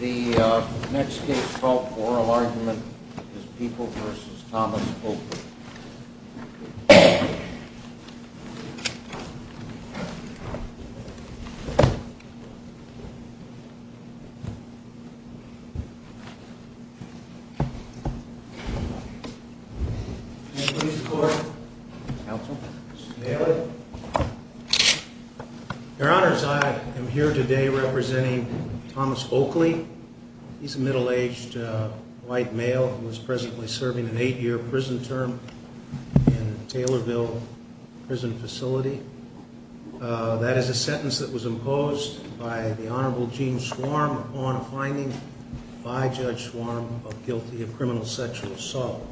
The next case for oral argument is People v. Thomas Oakley. I am here today representing Thomas Oakley. He is a middle-aged white male who is presently serving a five-year prison term in a Taylorville prison facility. That is a sentence that was imposed by the Honorable Gene Schwarm upon a finding by Judge Schwarm of guilty of criminal sexual assault.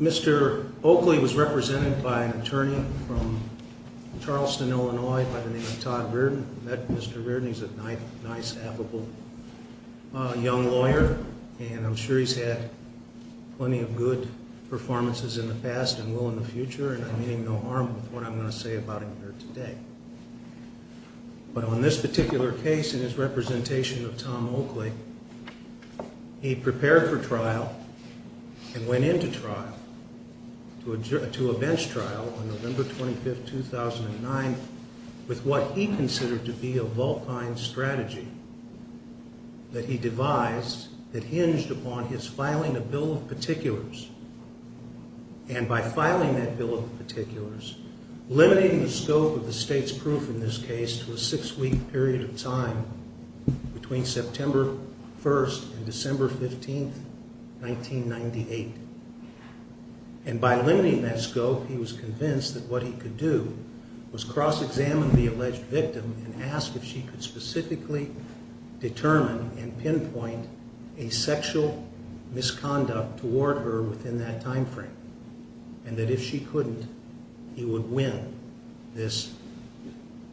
Mr. Oakley was represented by an attorney from Charleston, Illinois by the name of Todd Reardon. Mr. Reardon is a nice, affable young lawyer, and I'm sure he's had plenty of good performances in the past and will in the future, and I'm aiming no harm with what I'm going to say about him here today. But on this particular case, in his representation of Tom Oakley, he prepared for trial and went into trial, to a bench trial on November 25, 2009, with what he considered to be a vulpine strategy that he devised that hinged upon his filing a bill of particulars. And by filing that bill of particulars, limiting the scope of the state's proof in this case to a six-week period of he could do was cross-examine the alleged victim and ask if she could specifically determine and pinpoint a sexual misconduct toward her within that time frame, and that if she couldn't, he would win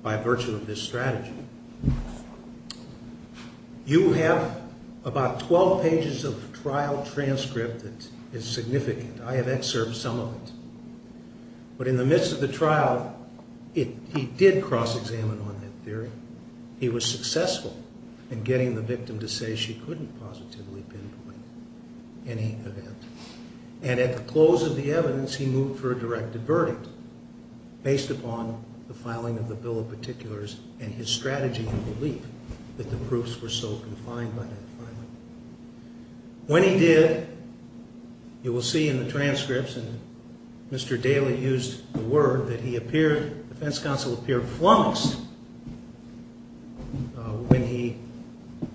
by virtue of this strategy. You have about 12 pages of trial transcript that is significant. I have excerpted some of it. But in the midst of the trial, he did cross-examine on that theory. He was successful in getting the victim to say she couldn't positively pinpoint any event. And at the close of the evidence, he moved for a directed verdict based upon the filing of the bill of particulars and his strategy and belief that the proofs were so confined by that filing. When he did, you will see in the transcripts, and Mr. Daley used the word, that he appeared, the defense counsel appeared flummoxed when he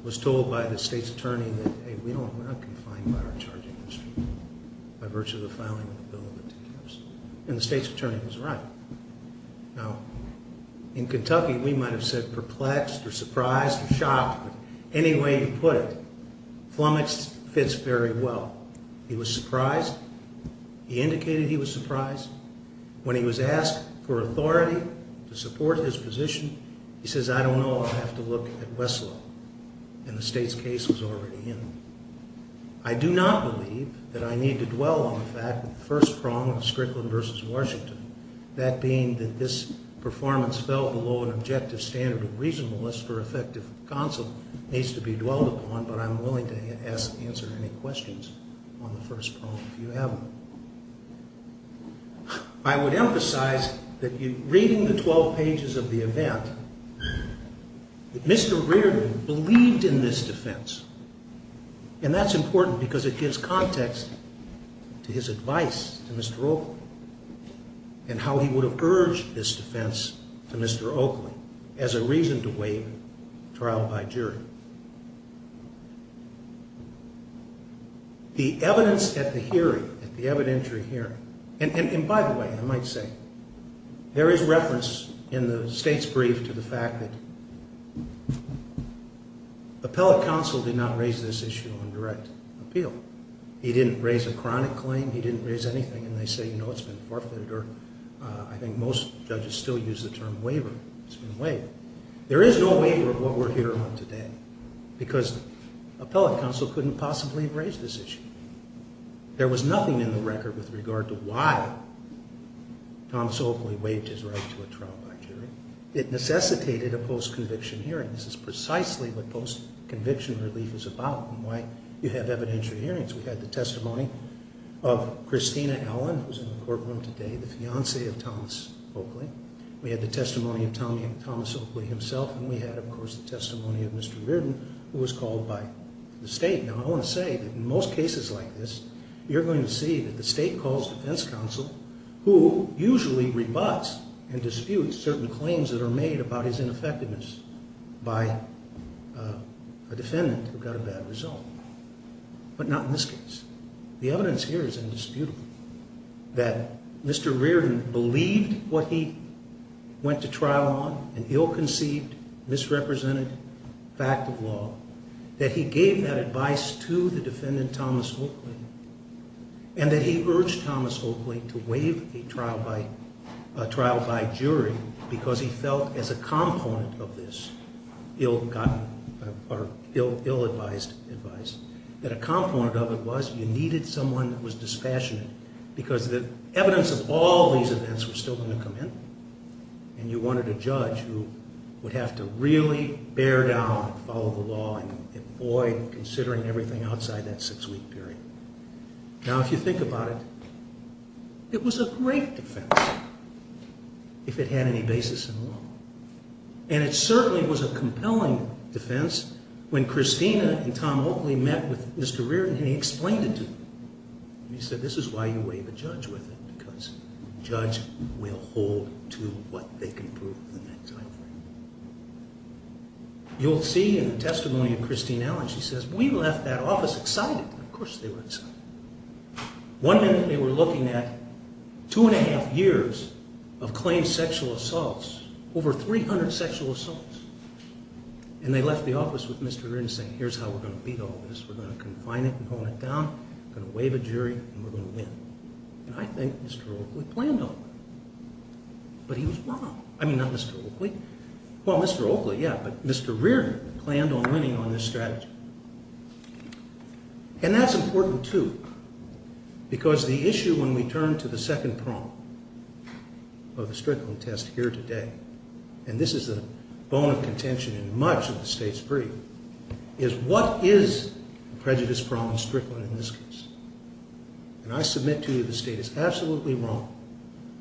was told by the state's attorney that, hey, we are not confined by our charging history by virtue of the filing of the bill of particulars. And the state's attorney was right. Now, in any way you put it, flummoxed fits very well. He was surprised. He indicated he was surprised. When he was asked for authority to support his position, he says, I don't know. I'll have to look at Westlaw. And the state's case was already in. I do not believe that I need to dwell on the fact that the first prong of Strickland v. Washington, that being that this performance fell below an objective standard of reasonableness for effective counsel, needs to be dwelled upon, but I'm willing to answer any questions on the first prong if you have them. I would emphasize that reading the 12 pages of the event, Mr. Reardon believed in this defense. And that's important because it gives context to his defense. He would have urged this defense to Mr. Oakley as a reason to waive trial by jury. The evidence at the hearing, at the evidentiary hearing, and by the way, I might say, there is reference in the state's brief to the fact that appellate counsel did not raise this issue on direct appeal. He didn't raise a chronic claim. He didn't raise anything. And they say, you know, it's been forfeited, or I think most judges still use the term waiver. It's been waived. There is no waiver of what we're hearing today because appellate counsel couldn't possibly have raised this issue. There was nothing in the record with regard to why Tom Soakley waived his right to a trial by jury. It necessitated a post-conviction hearing. This is precisely what post-conviction relief is about and why you have evidentiary hearings. We had the testimony of Christina Allen, who is in the courtroom today, the fiance of Thomas Oakley. We had the testimony of Thomas Oakley himself, and we had, of course, the testimony of Mr. Reardon, who was called by the state. Now, I want to say that in most cases like this, you're going to see that the state calls defense counsel, who usually rebuts and disputes certain claims that are made about his ineffectiveness by a defendant who got a bad result, but not in this case. The evidence here is indisputable that Mr. Reardon believed what he went to trial on, an ill-conceived, misrepresented fact of law, that he gave that advice to the defendant, Thomas Oakley, and that he urged Thomas Oakley to waive a trial by jury because he felt as a component of this ill-advised advice, that a component of it was you needed someone that was dispassionate because the evidence of all these events were still going to come in, and you wanted a judge who would have to really bear down and follow the law and avoid considering everything outside that six-week period. Now, if you think about it, it was a great defense if it had any basis in law, and it certainly was a compelling defense when Christina and Tom Oakley met with Mr. Reardon, and he explained it to them. He said, this is why you waive a judge with it, because the judge will hold to what they can prove. You'll see in the testimony of Christine Allen, she says, we left that One minute they were looking at two and a half years of claimed sexual assaults, over 300 sexual assaults, and they left the office with Mr. Reardon saying, here's how we're going to beat all this. We're going to confine it and hone it down. We're going to waive a jury, and we're going to win. And I think Mr. Oakley planned on that. But he was wrong. I mean, not Mr. Oakley. Well, Mr. Oakley, yeah, but Mr. Reardon planned on winning on this strategy. And that's important, too, because the issue when we turn to the second prong of the Strickland test here today, and this is the bone of contention in much of the state's brief, is what is the prejudice prong in Strickland in this case? And I submit to you the state is absolutely wrong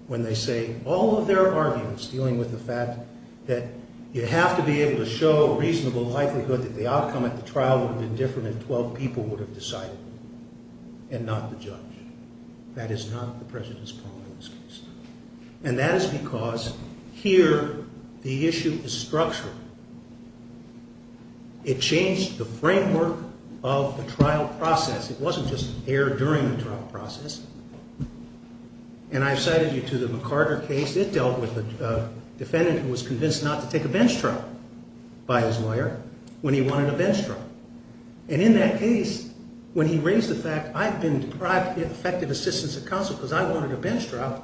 when they say all of their arguments dealing with the fact that you have to be able to show a reasonable likelihood that the outcome at the trial would have been different if 12 people would have decided and not the judge. That is not the prejudice prong in this case. And that is because here the issue is structural. It changed the framework of the trial process. It wasn't just there during the trial process. And I've cited you to the McCarter case. It dealt with a defendant who was convinced not to take a bench trial by his lawyer when he wanted a bench trial. And in that case, when he raised the fact, I've been deprived effective assistance at counsel because I wanted a bench trial,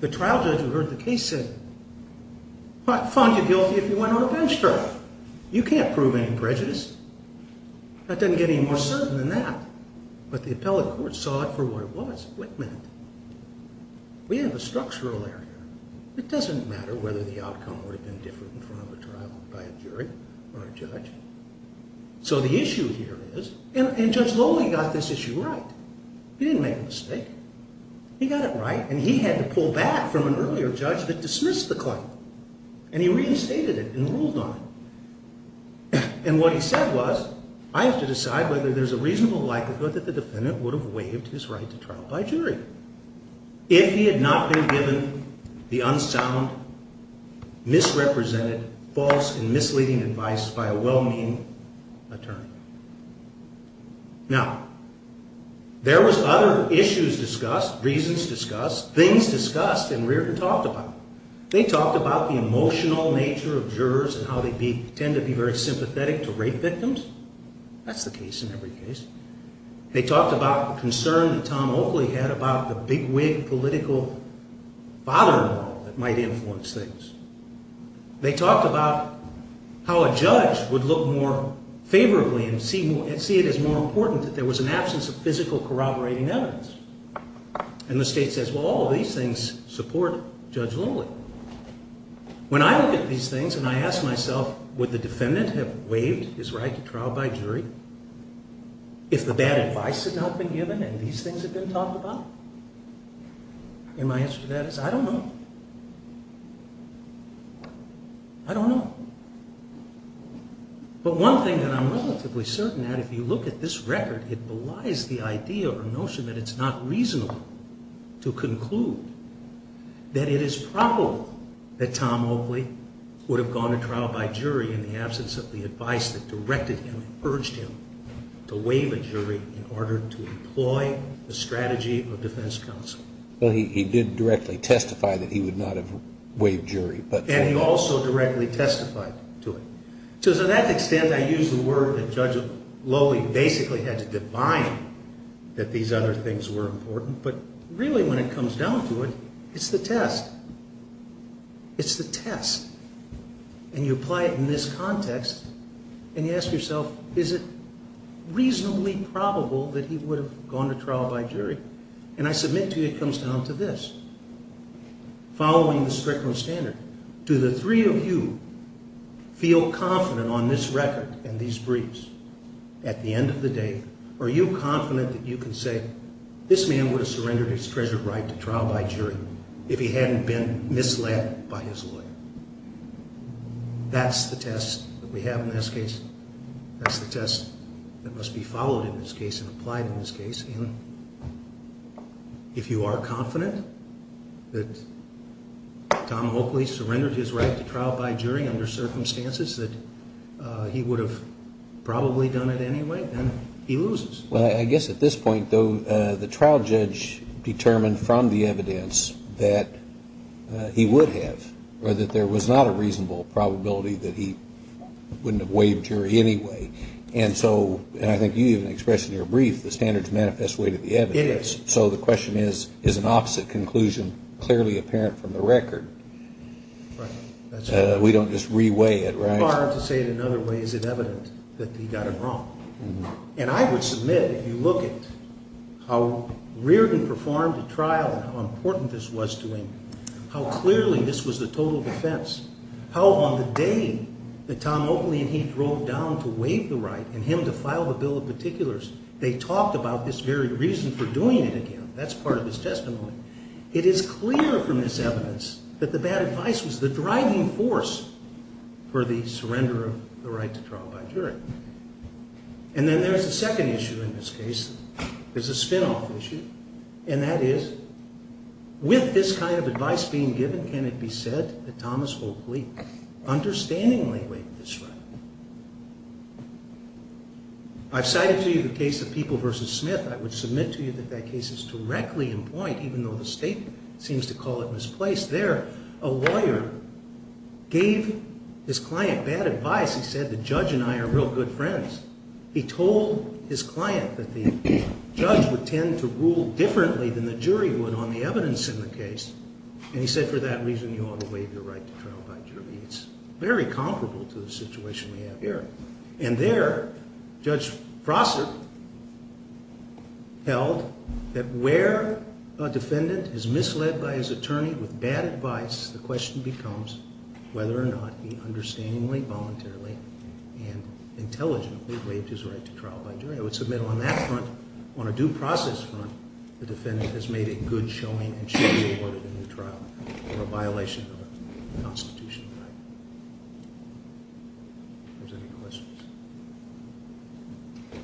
the trial judge who heard the case said, I'll find you guilty if you went on a bench trial. You can't prove any prejudice. That doesn't get any more certain than that. But the appellate court saw it for what it was, what it meant. We have a structural area. It doesn't matter whether the outcome would have been different in front of a trial by a jury or a judge. So the issue here is, and Judge Lowley got this issue right. He didn't make a mistake. He got it right and he had to pull back from an earlier judge that dismissed the claim. And he reinstated it and ruled on it. And what he said was, I have to decide whether there's a reasonable likelihood that the defendant would have waived his right to trial by jury if he had not been given the unsound, misrepresented, false and misleading advice by a well-meaning attorney. Now, there was other issues discussed, reasons discussed, things discussed and Reardon talked about. They talked about the emotional nature of jurors and how they tend to be very They talked about the concern that Tom Oakley had about the big-wig political father-in-law that might influence things. They talked about how a judge would look more favorably and see it as more important that there was an absence of physical corroborating evidence. And the state says, well, all of these things support Judge Lowley. When I look at these things and I ask myself, would the defendant have waived his right to trial by jury if the bad advice had not been given and these things had been talked about? And my answer to that is, I don't know. I don't know. But one thing that I'm relatively certain that if you look at this record, it belies the idea or notion that it's not reasonable to conclude that it is probable that Tom Oakley would have gone to trial by jury in the absence of the advice that directed him and urged him to waive a jury in order to employ the strategy of defense counsel. Well, he did directly testify that he would not have waived jury. And he also directly testified to it. So to that extent, I use the word that Judge Lowley basically had to define that these other things were important. But really, when it comes down to it, it's the test. It's the test. And you apply it in this context and you ask yourself, is it reasonably probable that he would have gone to trial by jury? And I submit to you it comes down to this. Following the Strickland standard, do the three of you feel confident on this record and these briefs at the end of the day, are you confident that you can say, this man would have surrendered his treasured right to trial by jury if he hadn't been misled by his lawyer? That's the test that we have in this case. That's the test that must be followed in this case and applied in this case. And if you are confident that Tom Oakley surrendered his right to trial by jury under circumstances that he would have probably done it anyway, then he loses. Well, I guess at this point, though, the trial judge determined from the evidence that he would have or that there was not a reasonable probability that he wouldn't have waived jury anyway. And so, and I think you even expressed in your brief, the standards manifest way to the evidence. It is. So the question is, is an opposite conclusion clearly apparent from the record? Right. That's right. We don't just re-weigh it, right? It's very hard to say it another way. Is it evident that he got it wrong? And I would submit, if you look at how Reardon performed the trial and how important this was to him, how clearly this was the total defense, how on the day that Tom Oakley and he drove down to waive the right and him to file the Bill of Particulars, they talked about this very reason for doing it again. That's part of his testimony. It is clear from this evidence that the bad advice was the driving force for the surrender of the right to trial by jury. And then there's a second issue in this case. There's a spin-off issue. And that is, with this kind of advice being given, can it be said that Thomas Oakley understandingly waived this right? I've cited to you the case of People v. Smith. I would submit to you that that case is directly in point, even though the state seems to call it misplaced. There, a lawyer gave his client bad advice. He said, the judge and I are real good friends. He told his client that the judge would tend to rule differently than the jury would on the evidence in the case. And he said, for that reason, you ought to waive your right to trial by jury. It's very comparable to the situation we have here. And there, Judge Prosser held that where a defendant is misled by his attorney with bad advice, the question becomes whether or not he understandingly, voluntarily, and intelligently waived his right to trial by jury. I would submit on that front, on a due process front, the defendant has made a good showing and should be awarded a new trial for a violation of a constitutional right. Are there any questions?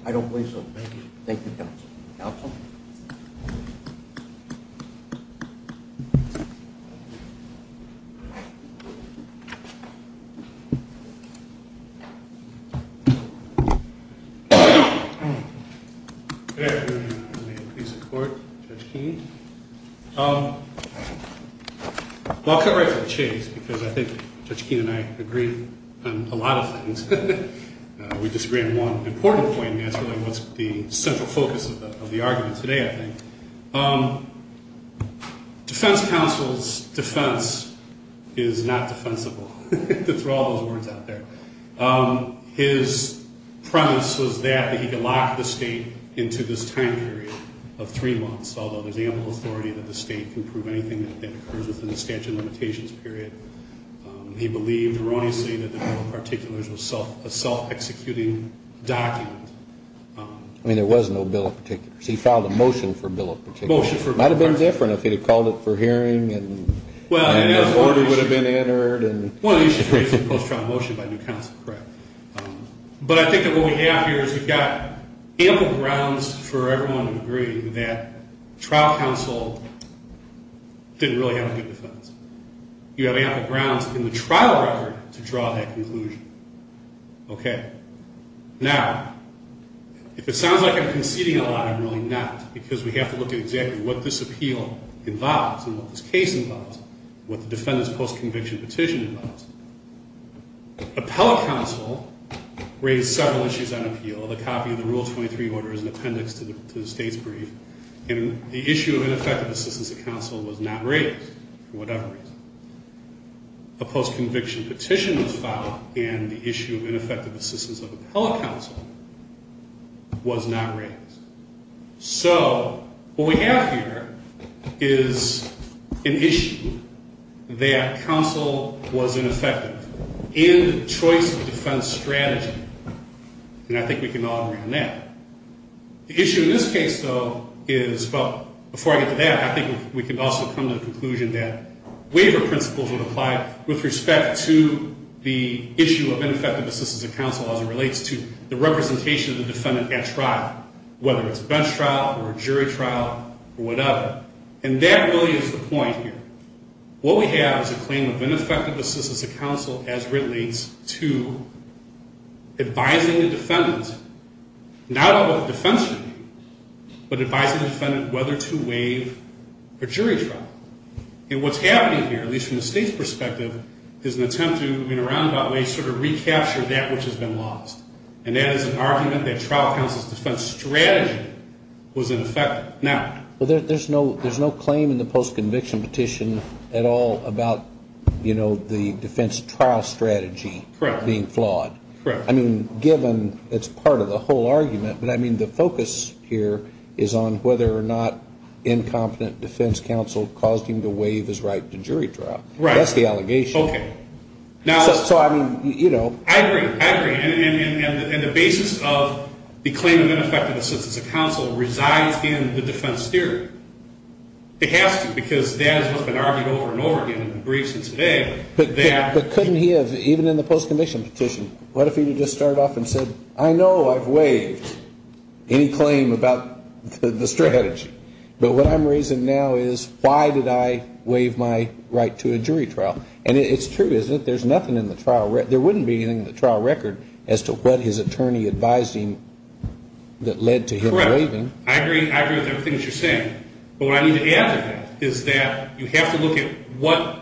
I don't believe so. Thank you. Thank you, counsel. Counsel? Good afternoon. May it please the Court, Judge Keene. Well, I'll cut right to the chase because I think Judge Keene and I agree on a lot of things. We disagree on one important point, and that's really what's the central focus of the argument today, I think. Defense counsel's defense is not defensible. There's all those words out there. His premise was that he could lock the state into this time period of three months, although there's ample authority that the state can prove anything that occurs within the statute of limitations period. He believed erroneously that the federal particulars was a self-executing document. I mean, there was no bill of particulars. He filed a motion for a bill of particulars. Motion for a bill of particulars. It might have been different if he had called it for hearing and an order would have been entered. One of the issues is the post-trial motion by new counsel, correct. But I think what we have here is we've got ample grounds for everyone to agree that trial counsel didn't really have a good defense. You have ample grounds in the trial record to draw that conclusion. Okay. Now, if it sounds like I'm conceding a lot, I'm really not because we have to look at exactly what this appeal involves and what this case involves and what the defendant's post-conviction petition involves. Appellate counsel raised several issues on appeal, the copy of the Rule 23 order as an appendix to the state's brief, and the issue of ineffective assistance to counsel was not raised. So what we have here is an issue that counsel was ineffective in the choice of defense strategy, and I think we can all agree on that. The issue in this case, though, is, well, before I get to that, I think we can also come to the conclusion that waiver principles would apply with respect to the issue of ineffective assistance to counsel as it relates to the representation of the defendant at trial, whether it's bench trial or jury trial or whatever. And that really is the point here. What we have is a claim of ineffective assistance to counsel as relates to advising the defendant, not about defense strategy, but advising the defendant whether to waive a jury trial. And what's happening here, at least from the state's perspective, is an attempt to, in fact, recapture that which has been lost, and that is an argument that trial counsel's defense strategy was ineffective. Now, there's no claim in the postconviction petition at all about, you know, the defense trial strategy being flawed. Correct. I mean, given it's part of the whole argument, but I mean, the focus here is on whether or not incompetent defense counsel caused him to waive his right to jury trial. Right. That's the allegation. Okay. So, I mean, you know. I agree. I agree. And the basis of the claim of ineffective assistance to counsel resides in the defense theory. It has to, because that is what's been argued over and over again in the briefs since today. But couldn't he have, even in the postconviction petition, what if he had just started off and said, I know I've waived any claim about the strategy, but what I'm raising now is why did I do that? It's true, isn't it? There's nothing in the trial record. There wouldn't be anything in the trial record as to what his attorney advised him that led to him waiving. Correct. I agree with everything that you're saying. But what I need to add to that is that you have to look at what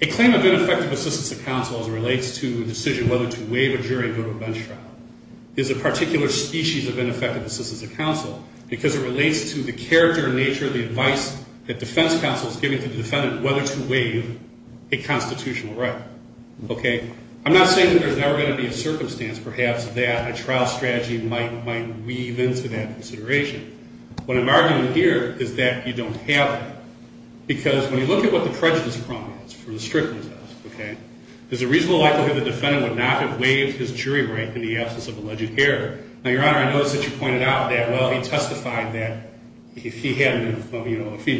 a claim of ineffective assistance to counsel as it relates to the decision whether to waive a jury and go to a bench trial is a particular species of ineffective assistance to counsel, because it relates to the character and nature of the advice that defense counsel is giving to the defendant whether to waive a constitutional right. Okay? I'm not saying that there's never going to be a circumstance, perhaps, that a trial strategy might weave into that consideration. What I'm arguing here is that you don't have that. Because when you look at what the prejudice problem is, for the strictness of it, okay, there's a reasonable likelihood the defendant would not have waived his jury right in the absence of alleged error. Now, Your Honor, I noticed that you pointed out that, well, he testified that if he had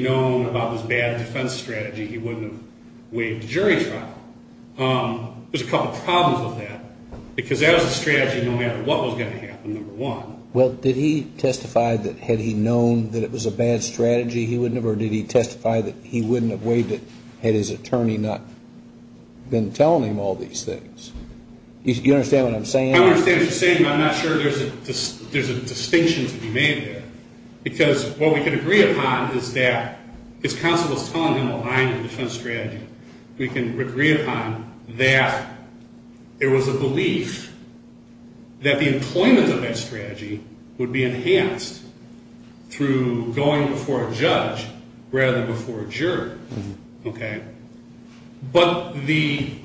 known about this bad defense strategy, he wouldn't have waived the jury trial. There's a couple problems with that, because that was a strategy no matter what was going to happen, number one. Well, did he testify that had he known that it was a bad strategy, he wouldn't have, or did he testify that he wouldn't have waived it had his attorney not been telling him all these things? You understand what I'm saying? I understand what you're saying, but I'm not sure there's a distinction to be made there. Because what we can agree upon is that his counsel was telling him behind the defense strategy. We can agree upon that there was a belief that the employment of that strategy would be enhanced through going before a judge rather than before a juror, okay? But the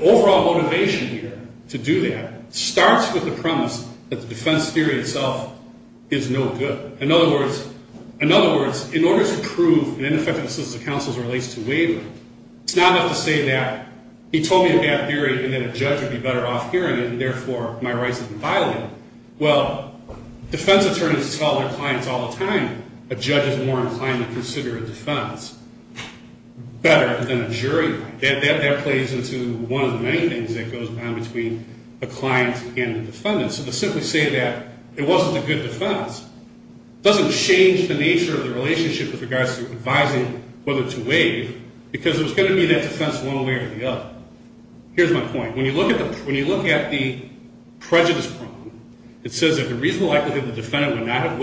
overall motivation here to do that starts with the premise that the defense theory itself is no good. In other words, in order to prove an ineffective assistance of counsel as it relates to waiver, it's not enough to say that he told me a bad theory and that a judge would be better off hearing it and, therefore, my rights have been violated. Well, defense attorneys tell their clients all the time a judge is more inclined to consider a defense better than a jury. That plays into one of the many things that goes on between a client and a defendant. So to simply say that it wasn't a good defense doesn't change the nature of the relationship with regards to advising whether to waive because there's going to be that defense one way or the other. Here's my point. When you look at the prejudice problem, it says that the reasonable likelihood the defendant would not have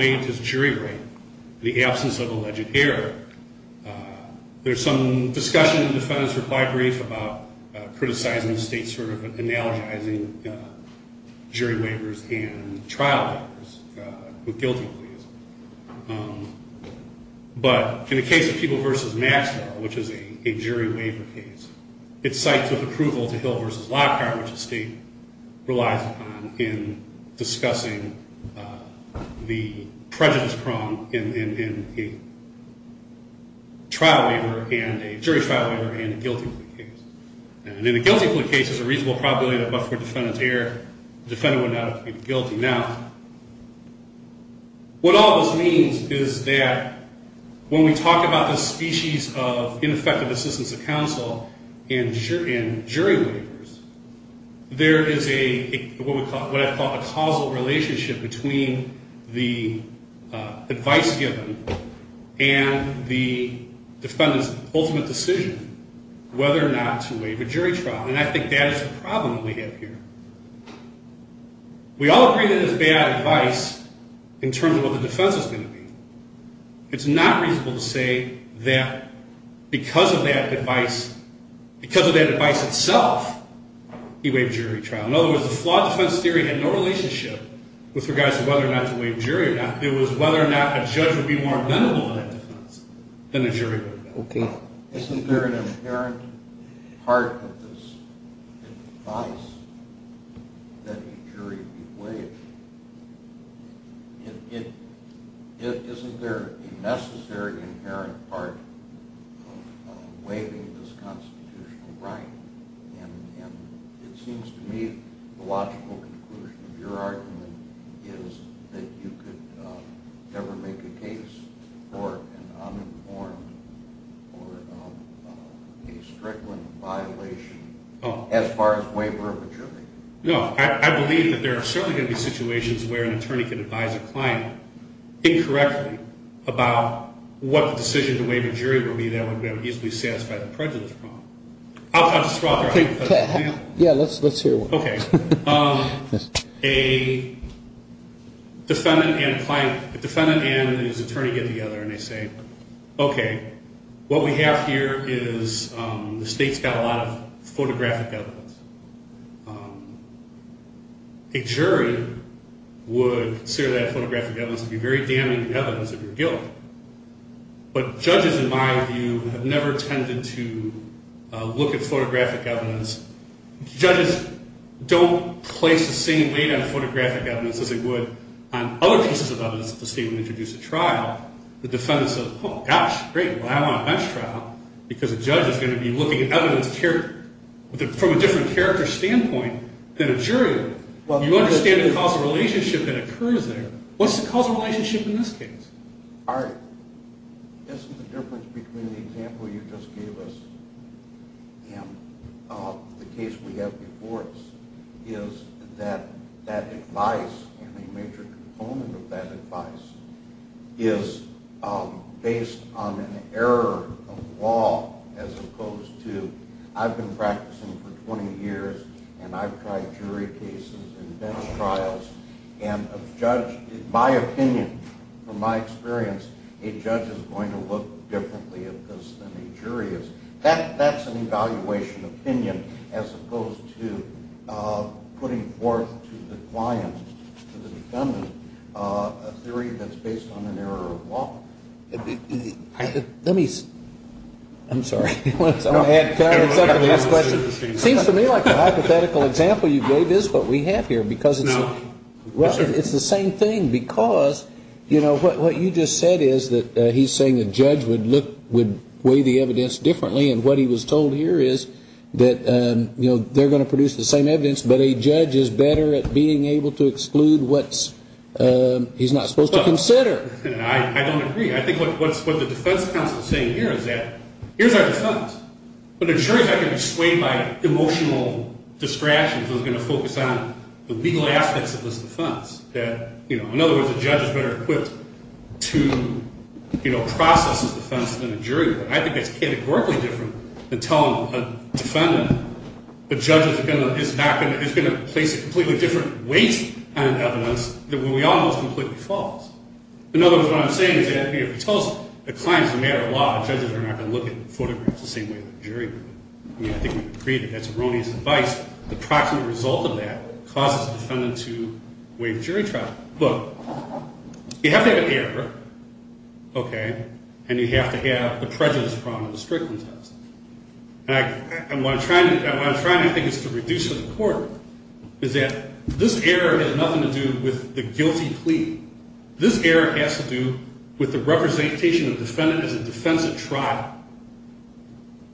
There's some discussion in the defendant's reply brief about criticizing the state's sort of analogizing jury waivers and trial waivers with guilty pleas. But in the case of People v. Maxwell, which is a jury waiver case, it's sites of approval to Hill v. Lockhart, which the state relies upon in discussing the prejudice problem in a trial waiver and a jury trial waiver and a guilty plea case. And in a guilty plea case, there's a reasonable probability that Maxwell would defend his error. The defendant would not have to be guilty. Now, what all this means is that when we talk about this species of ineffective assistance of counsel in jury waivers, there is what I call a causal relationship between the advice given and the defendant's ultimate decision whether or not to waive a jury trial. And I think that is the problem we have here. We all agree that it's bad advice in terms of what the defense is going to be. It's not reasonable to say that because of that advice, because of that advice itself, he waived jury trial. In other words, the flawed defense theory had no relationship with regards to whether or not to waive jury or not. It was whether or not a judge would be more amenable to that defense than the jury would be. Okay. Isn't there an inherent part of this advice that a jury be waived? Isn't there a necessary inherent part of waiving this constitutional right? And it seems to me the logical conclusion of your argument is that you could never make a case for an uninformed or a frequent violation as far as waiver of a jury. No. I believe that there are certainly going to be situations where an attorney can advise a client incorrectly about what the decision to waive a jury would be that would be able to easily satisfy the prejudice problem. I'll just throw out there. Yeah, let's hear one. Okay. A defendant and his attorney get together and they say, okay, what we have here is the state's got a lot of photographic evidence. A jury would consider that photographic evidence to be very damaging evidence of your guilt. But judges, in my view, have never tended to look at photographic evidence. Judges don't place the same weight on photographic evidence as they would on other pieces of evidence that the state would introduce at trial. The defendant says, oh, gosh, great. Well, I want a bench trial because a judge is going to be looking at evidence from a different character standpoint than a jury. You understand the causal relationship that occurs there. What's the causal relationship in this case? Isn't the difference between the example you just gave us and the case we have before us is that that advice and a major component of that advice is based on an error of law as opposed to I've been practicing for 20 years and I've tried jury cases and bench trials. And a judge, in my opinion, from my experience, a judge is going to look differently at this than a jury is. That's an evaluation opinion as opposed to putting forth to the client, to the defendant, a theory that's based on an error of law. Let me, I'm sorry. I'm going to add, Karen, it seems to me like the hypothetical example you gave is what we have here because it's Well, it's the same thing because, you know, what you just said is that he's saying a judge would look, would weigh the evidence differently and what he was told here is that, you know, they're going to produce the same evidence, but a judge is better at being able to exclude what he's not supposed to consider. I don't agree. I think what the defense counsel is saying here is that here's our defense. But a jury is not going to be swayed by emotional distractions. It's going to focus on the legal aspects of this defense that, you know, in other words, a judge is better equipped to, you know, process his defense than a jury. I think that's categorically different than telling a defendant the judge is not going to, is going to place a completely different weight on evidence than when we all know it's completely false. In other words, what I'm saying is that if he tells the client it's a matter of law, judges are not going to look at photographs the same way that a jury would. I mean, I think we've created, that's erroneous advice. The proximate result of that causes the defendant to waive jury trial. Look, you have to have an error, okay, and you have to have the prejudice problem in the Strickland test. And what I'm trying to think is to reduce for the court is that this error has nothing to do with the guilty plea. This error has to do with the representation of the defendant as a defense at trial.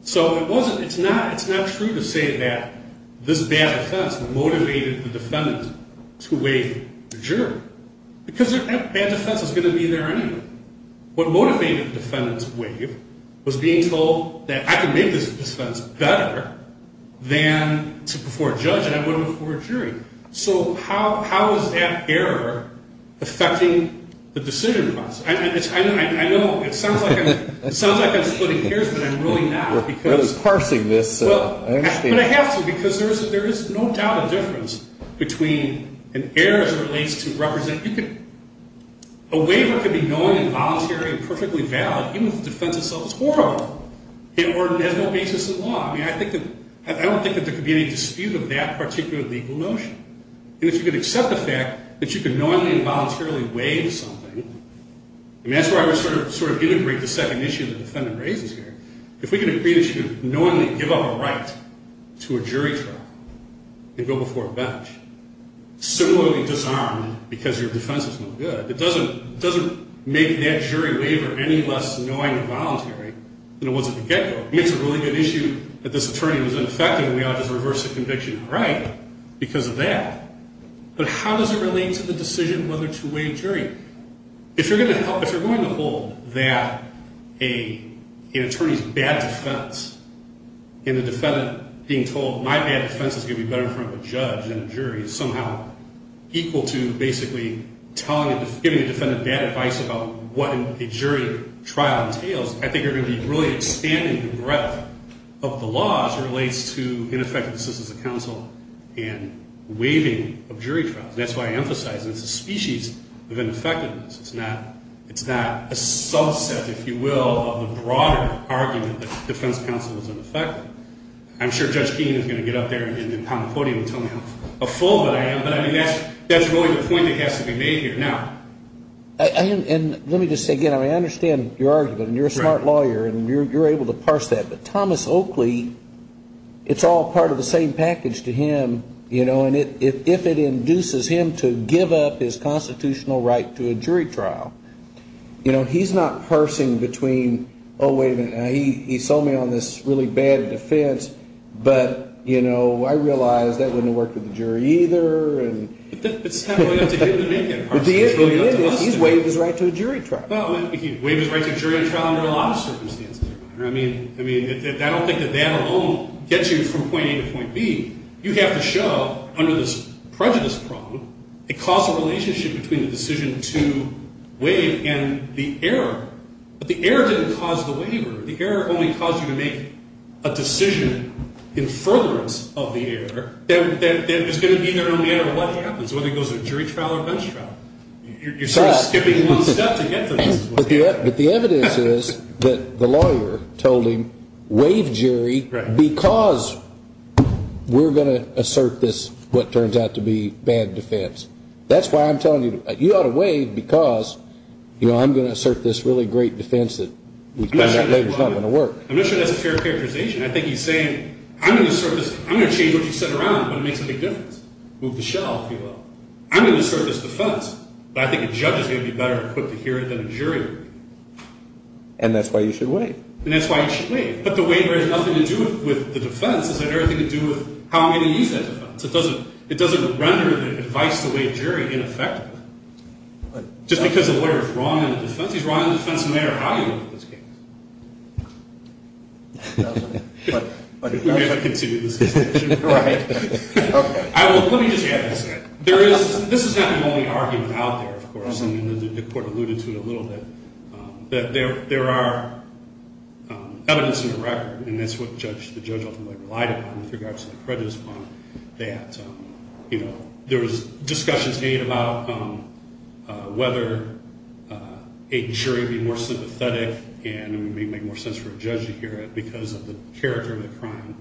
So it wasn't, it's not true to say that this bad defense motivated the defendant to waive the jury because that bad defense is going to be there anyway. What motivated the defendant's waive was being told that I can make this defense better than before a judge and I would before a jury. So how is that error affecting the decision process? I know it sounds like I'm splitting hairs, but I'm really not. You're really parsing this, I understand. But I have to because there is no doubt a difference between an error as it relates to represent. A waiver could be knowing and voluntary and perfectly valid even if the defense itself is horrible. It has no basis in law. I don't think that there could be any dispute of that particular legal notion. And if you could accept the fact that you could knowingly and voluntarily waive something, and that's where I would sort of integrate the second issue the defendant raises here. If we can agree that you can knowingly give up a right to a jury trial and go before a bench, similarly disarmed because your defense is no good, it doesn't make that jury waiver any less annoying or voluntary than it was at the get-go. If it's a really good issue that this attorney was ineffective, we ought to just reverse the conviction. All right, because of that. But how does it relate to the decision whether to waive jury? If you're going to hold that an attorney's bad defense and the defendant being told, my bad defense is going to be better in front of a judge than a jury, somehow equal to basically giving the defendant bad advice about what a jury trial entails, I think you're going to be really expanding the breadth of the law as it relates to ineffective assistance of counsel and waiving of jury trials. That's why I emphasize it's a species of ineffectiveness. It's not a subset, if you will, of the broader argument that defense counsel is ineffective. I'm sure Judge Keene is going to get up there and pound the podium and tell me how full of it I am, but I mean that's really the point that has to be made here. And let me just say again, I understand your argument, and you're a smart lawyer, and you're able to parse that, but Thomas Oakley, it's all part of the same package to him, you know, and if it induces him to give up his constitutional right to a jury trial, you know, he's not parsing between, oh, wait a minute, he sold me on this really bad defense, but, you know, I realize that wouldn't have worked with the jury either. But he's waived his right to a jury trial. Well, he waived his right to a jury trial under a lot of circumstances. I mean, I don't think that that alone gets you from point A to point B. You have to show, under this prejudice problem, a causal relationship between the decision to waive and the error. But the error didn't cause the waiver. The error only caused you to make a decision in furtherance of the error. It's going to be there no matter what happens, whether it goes to a jury trial or a bench trial. You're sort of skipping one step to get to this. But the evidence is that the lawyer told him, waive jury because we're going to assert this what turns out to be bad defense. That's why I'm telling you, you ought to waive because, you know, I'm going to assert this really great defense that we found out later is not going to work. I'm not sure that's a fair characterization. I think he's saying, I'm going to assert this. I'm going to change what you said around, but it makes a big difference. Move the shell, if you will. I'm going to assert this defense. But I think a judge is going to be better equipped to hear it than a jury. And that's why you should waive. And that's why you should waive. But the waiver has nothing to do with the defense. It has everything to do with how many use that defense. It doesn't render the advice to waive jury ineffective. Just because a lawyer is wrong in the defense, he's wrong in the defense no matter how you look at this case. We may have to continue this discussion. Right? Okay. Let me just add this. This is not the only argument out there, of course, and the court alluded to it a little bit, that there are evidence in the record, and that's what the judge ultimately relied upon with regards to the prejudice bond, that, you know, there was discussions made about whether a jury would be more sympathetic, and it would make more sense for a judge to hear it because of the character of the crime.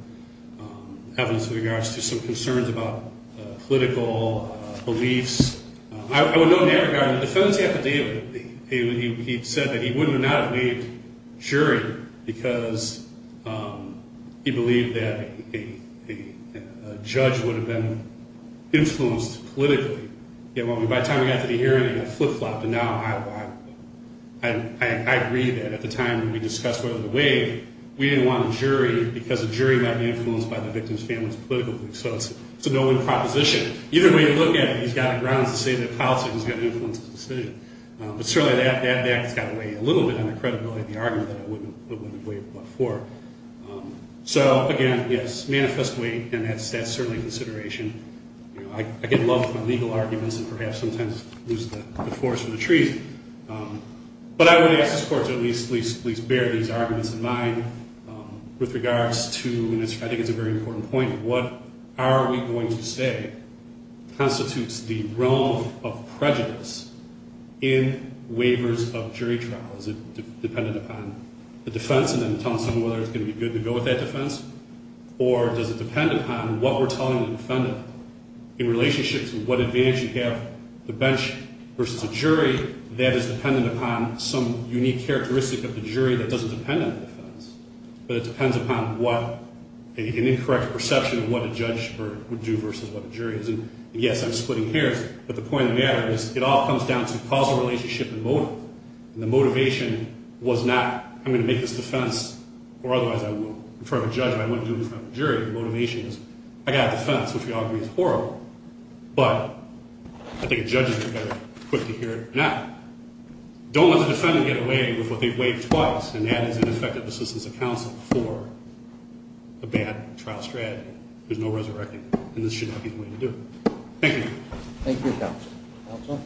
Evidence with regards to some concerns about political beliefs. I would note in that regard, the felony affidavit, he said that he would not have waived jury because he believed that a judge would have been influenced politically. By the time we got to the hearing, it flip-flopped, and now I agree that at the time when we discussed whether to waive, we didn't want a jury because a jury might be influenced by the victim's family's political beliefs. So it's a no-win proposition. Either way you look at it, he's got grounds to say that the policy was going to influence the decision. But certainly that has got to weigh a little bit on the credibility of the argument that it wouldn't have waived before. So again, yes, manifest weight, and that's certainly a consideration. I get in love with my legal arguments and perhaps sometimes lose the forest for the trees. But I would ask this Court to at least bear these arguments in mind with regards to, I think it's a very important point, what are we going to say constitutes the realm of prejudice in waivers of jury trial? Is it dependent upon the defense and then telling someone whether it's going to be good to go with that defense? Or does it depend upon what we're telling the defendant in relationship to what advantage you have the bench versus the jury that is dependent upon some unique characteristic of the jury that doesn't depend on the defense, but it depends upon an incorrect perception of what a judge would do versus what a jury is? And yes, I'm splitting hairs, but the point of the matter is it all comes down to causal relationship and motive. And the motivation was not, I'm going to make this defense or otherwise I won't. In front of a judge, I won't do it in front of a jury. The motivation is, I got a defense, which we all agree is horrible. Don't let the defendant get away with what they've waived twice, and that is ineffective assistance of counsel for a bad trial strategy. There's no resurrecting, and this should not be the way to do it. Thank you. Thank you, Counsel. Counsel?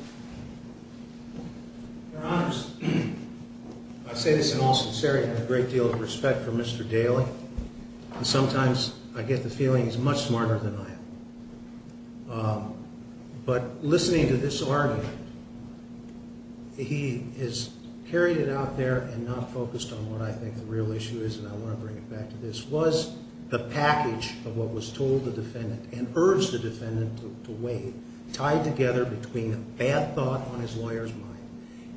Your Honors, I say this in all sincerity, I have a great deal of respect for Mr. Daly, and sometimes I get the feeling he's much smarter than I am. But listening to this argument, he has carried it out there and not focused on what I think the real issue is, and I want to bring it back to this, was the package of what was told the defendant and urged the defendant to waive tied together between a bad thought on his lawyer's mind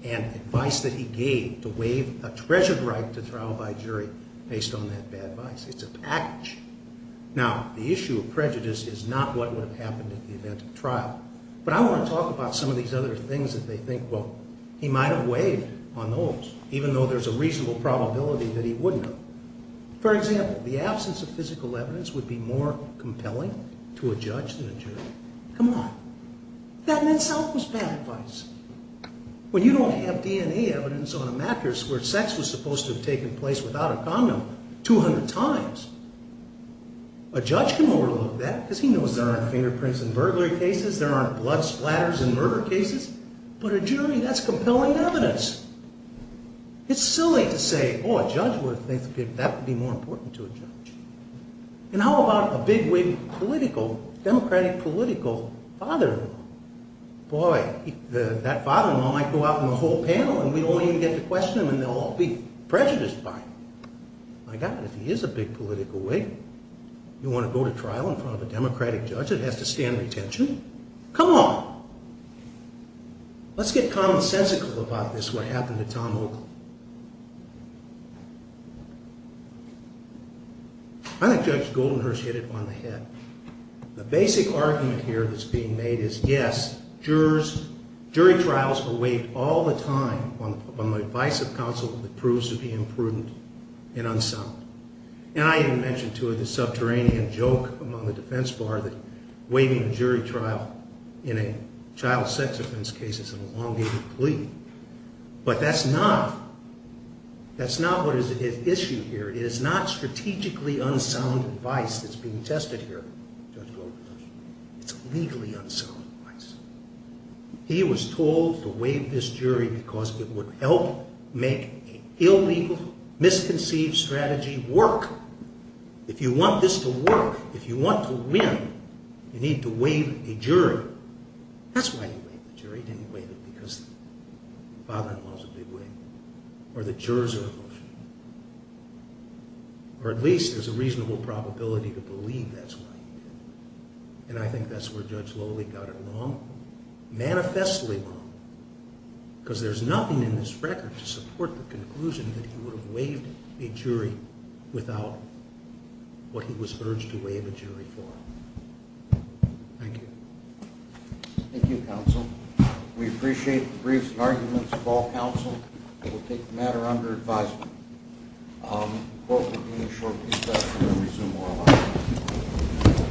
and advice that he gave to waive a treasured right to trial by jury based on that bad advice. It's a package. Now, the issue of prejudice is not what would have happened at the event of trial, but I want to talk about some of these other things that they think, well, he might have waived on those, even though there's a reasonable probability that he wouldn't have. For example, the absence of physical evidence would be more compelling to a judge than a jury. Come on. That in itself was bad advice. When you don't have DNA evidence on a mattress where sex was supposed to have taken place without a condom 200 times, a judge can overlook that because he knows there aren't fingerprints in burglary cases, there aren't blood splatters in murder cases, but a jury, that's compelling evidence. It's silly to say, oh, a judge would think that would be more important to a judge. And how about a bigwig political, democratic political father-in-law? Boy, that father-in-law might go out in the whole panel and we don't even get to question him and they'll all be prejudiced by him. My God, if he is a big political wig, you want to go to trial in front of a democratic judge that has to stand retention? Come on. Let's get commonsensical about this, what happened to Tom Oakley. I think Judge Goldenhurst hit it on the head. The basic argument here that's being made is, yes, jury trials are waived all the time on the advice of counsel that proves to be imprudent and unsound. And I even mentioned to her the subterranean joke among the defense bar that waiving a jury trial in a child sex offense case is an elongated plea. But that's not what is at issue here. It is not strategically unsound advice that's being tested here, Judge Goldenhurst. It's legally unsound advice. He was told to waive this jury because it would help make an illegal, misconceived strategy work. If you want this to work, if you want to win, you need to waive a jury. That's why he waived the jury, he didn't waive it because the father-in-law is a big wig. Or the jurors are emotional. Or at least there's a reasonable probability to believe that's why he did it. And I think that's where Judge Lowley got it wrong. Manifestly wrong. Because there's nothing in this record to support the conclusion that he would have waived a jury without what he was urged to waive a jury for. Thank you. Thank you, counsel. We appreciate the briefs and arguments of all counsel. We'll take the matter under advisement. The court will be in a short discussion and resume oral argument.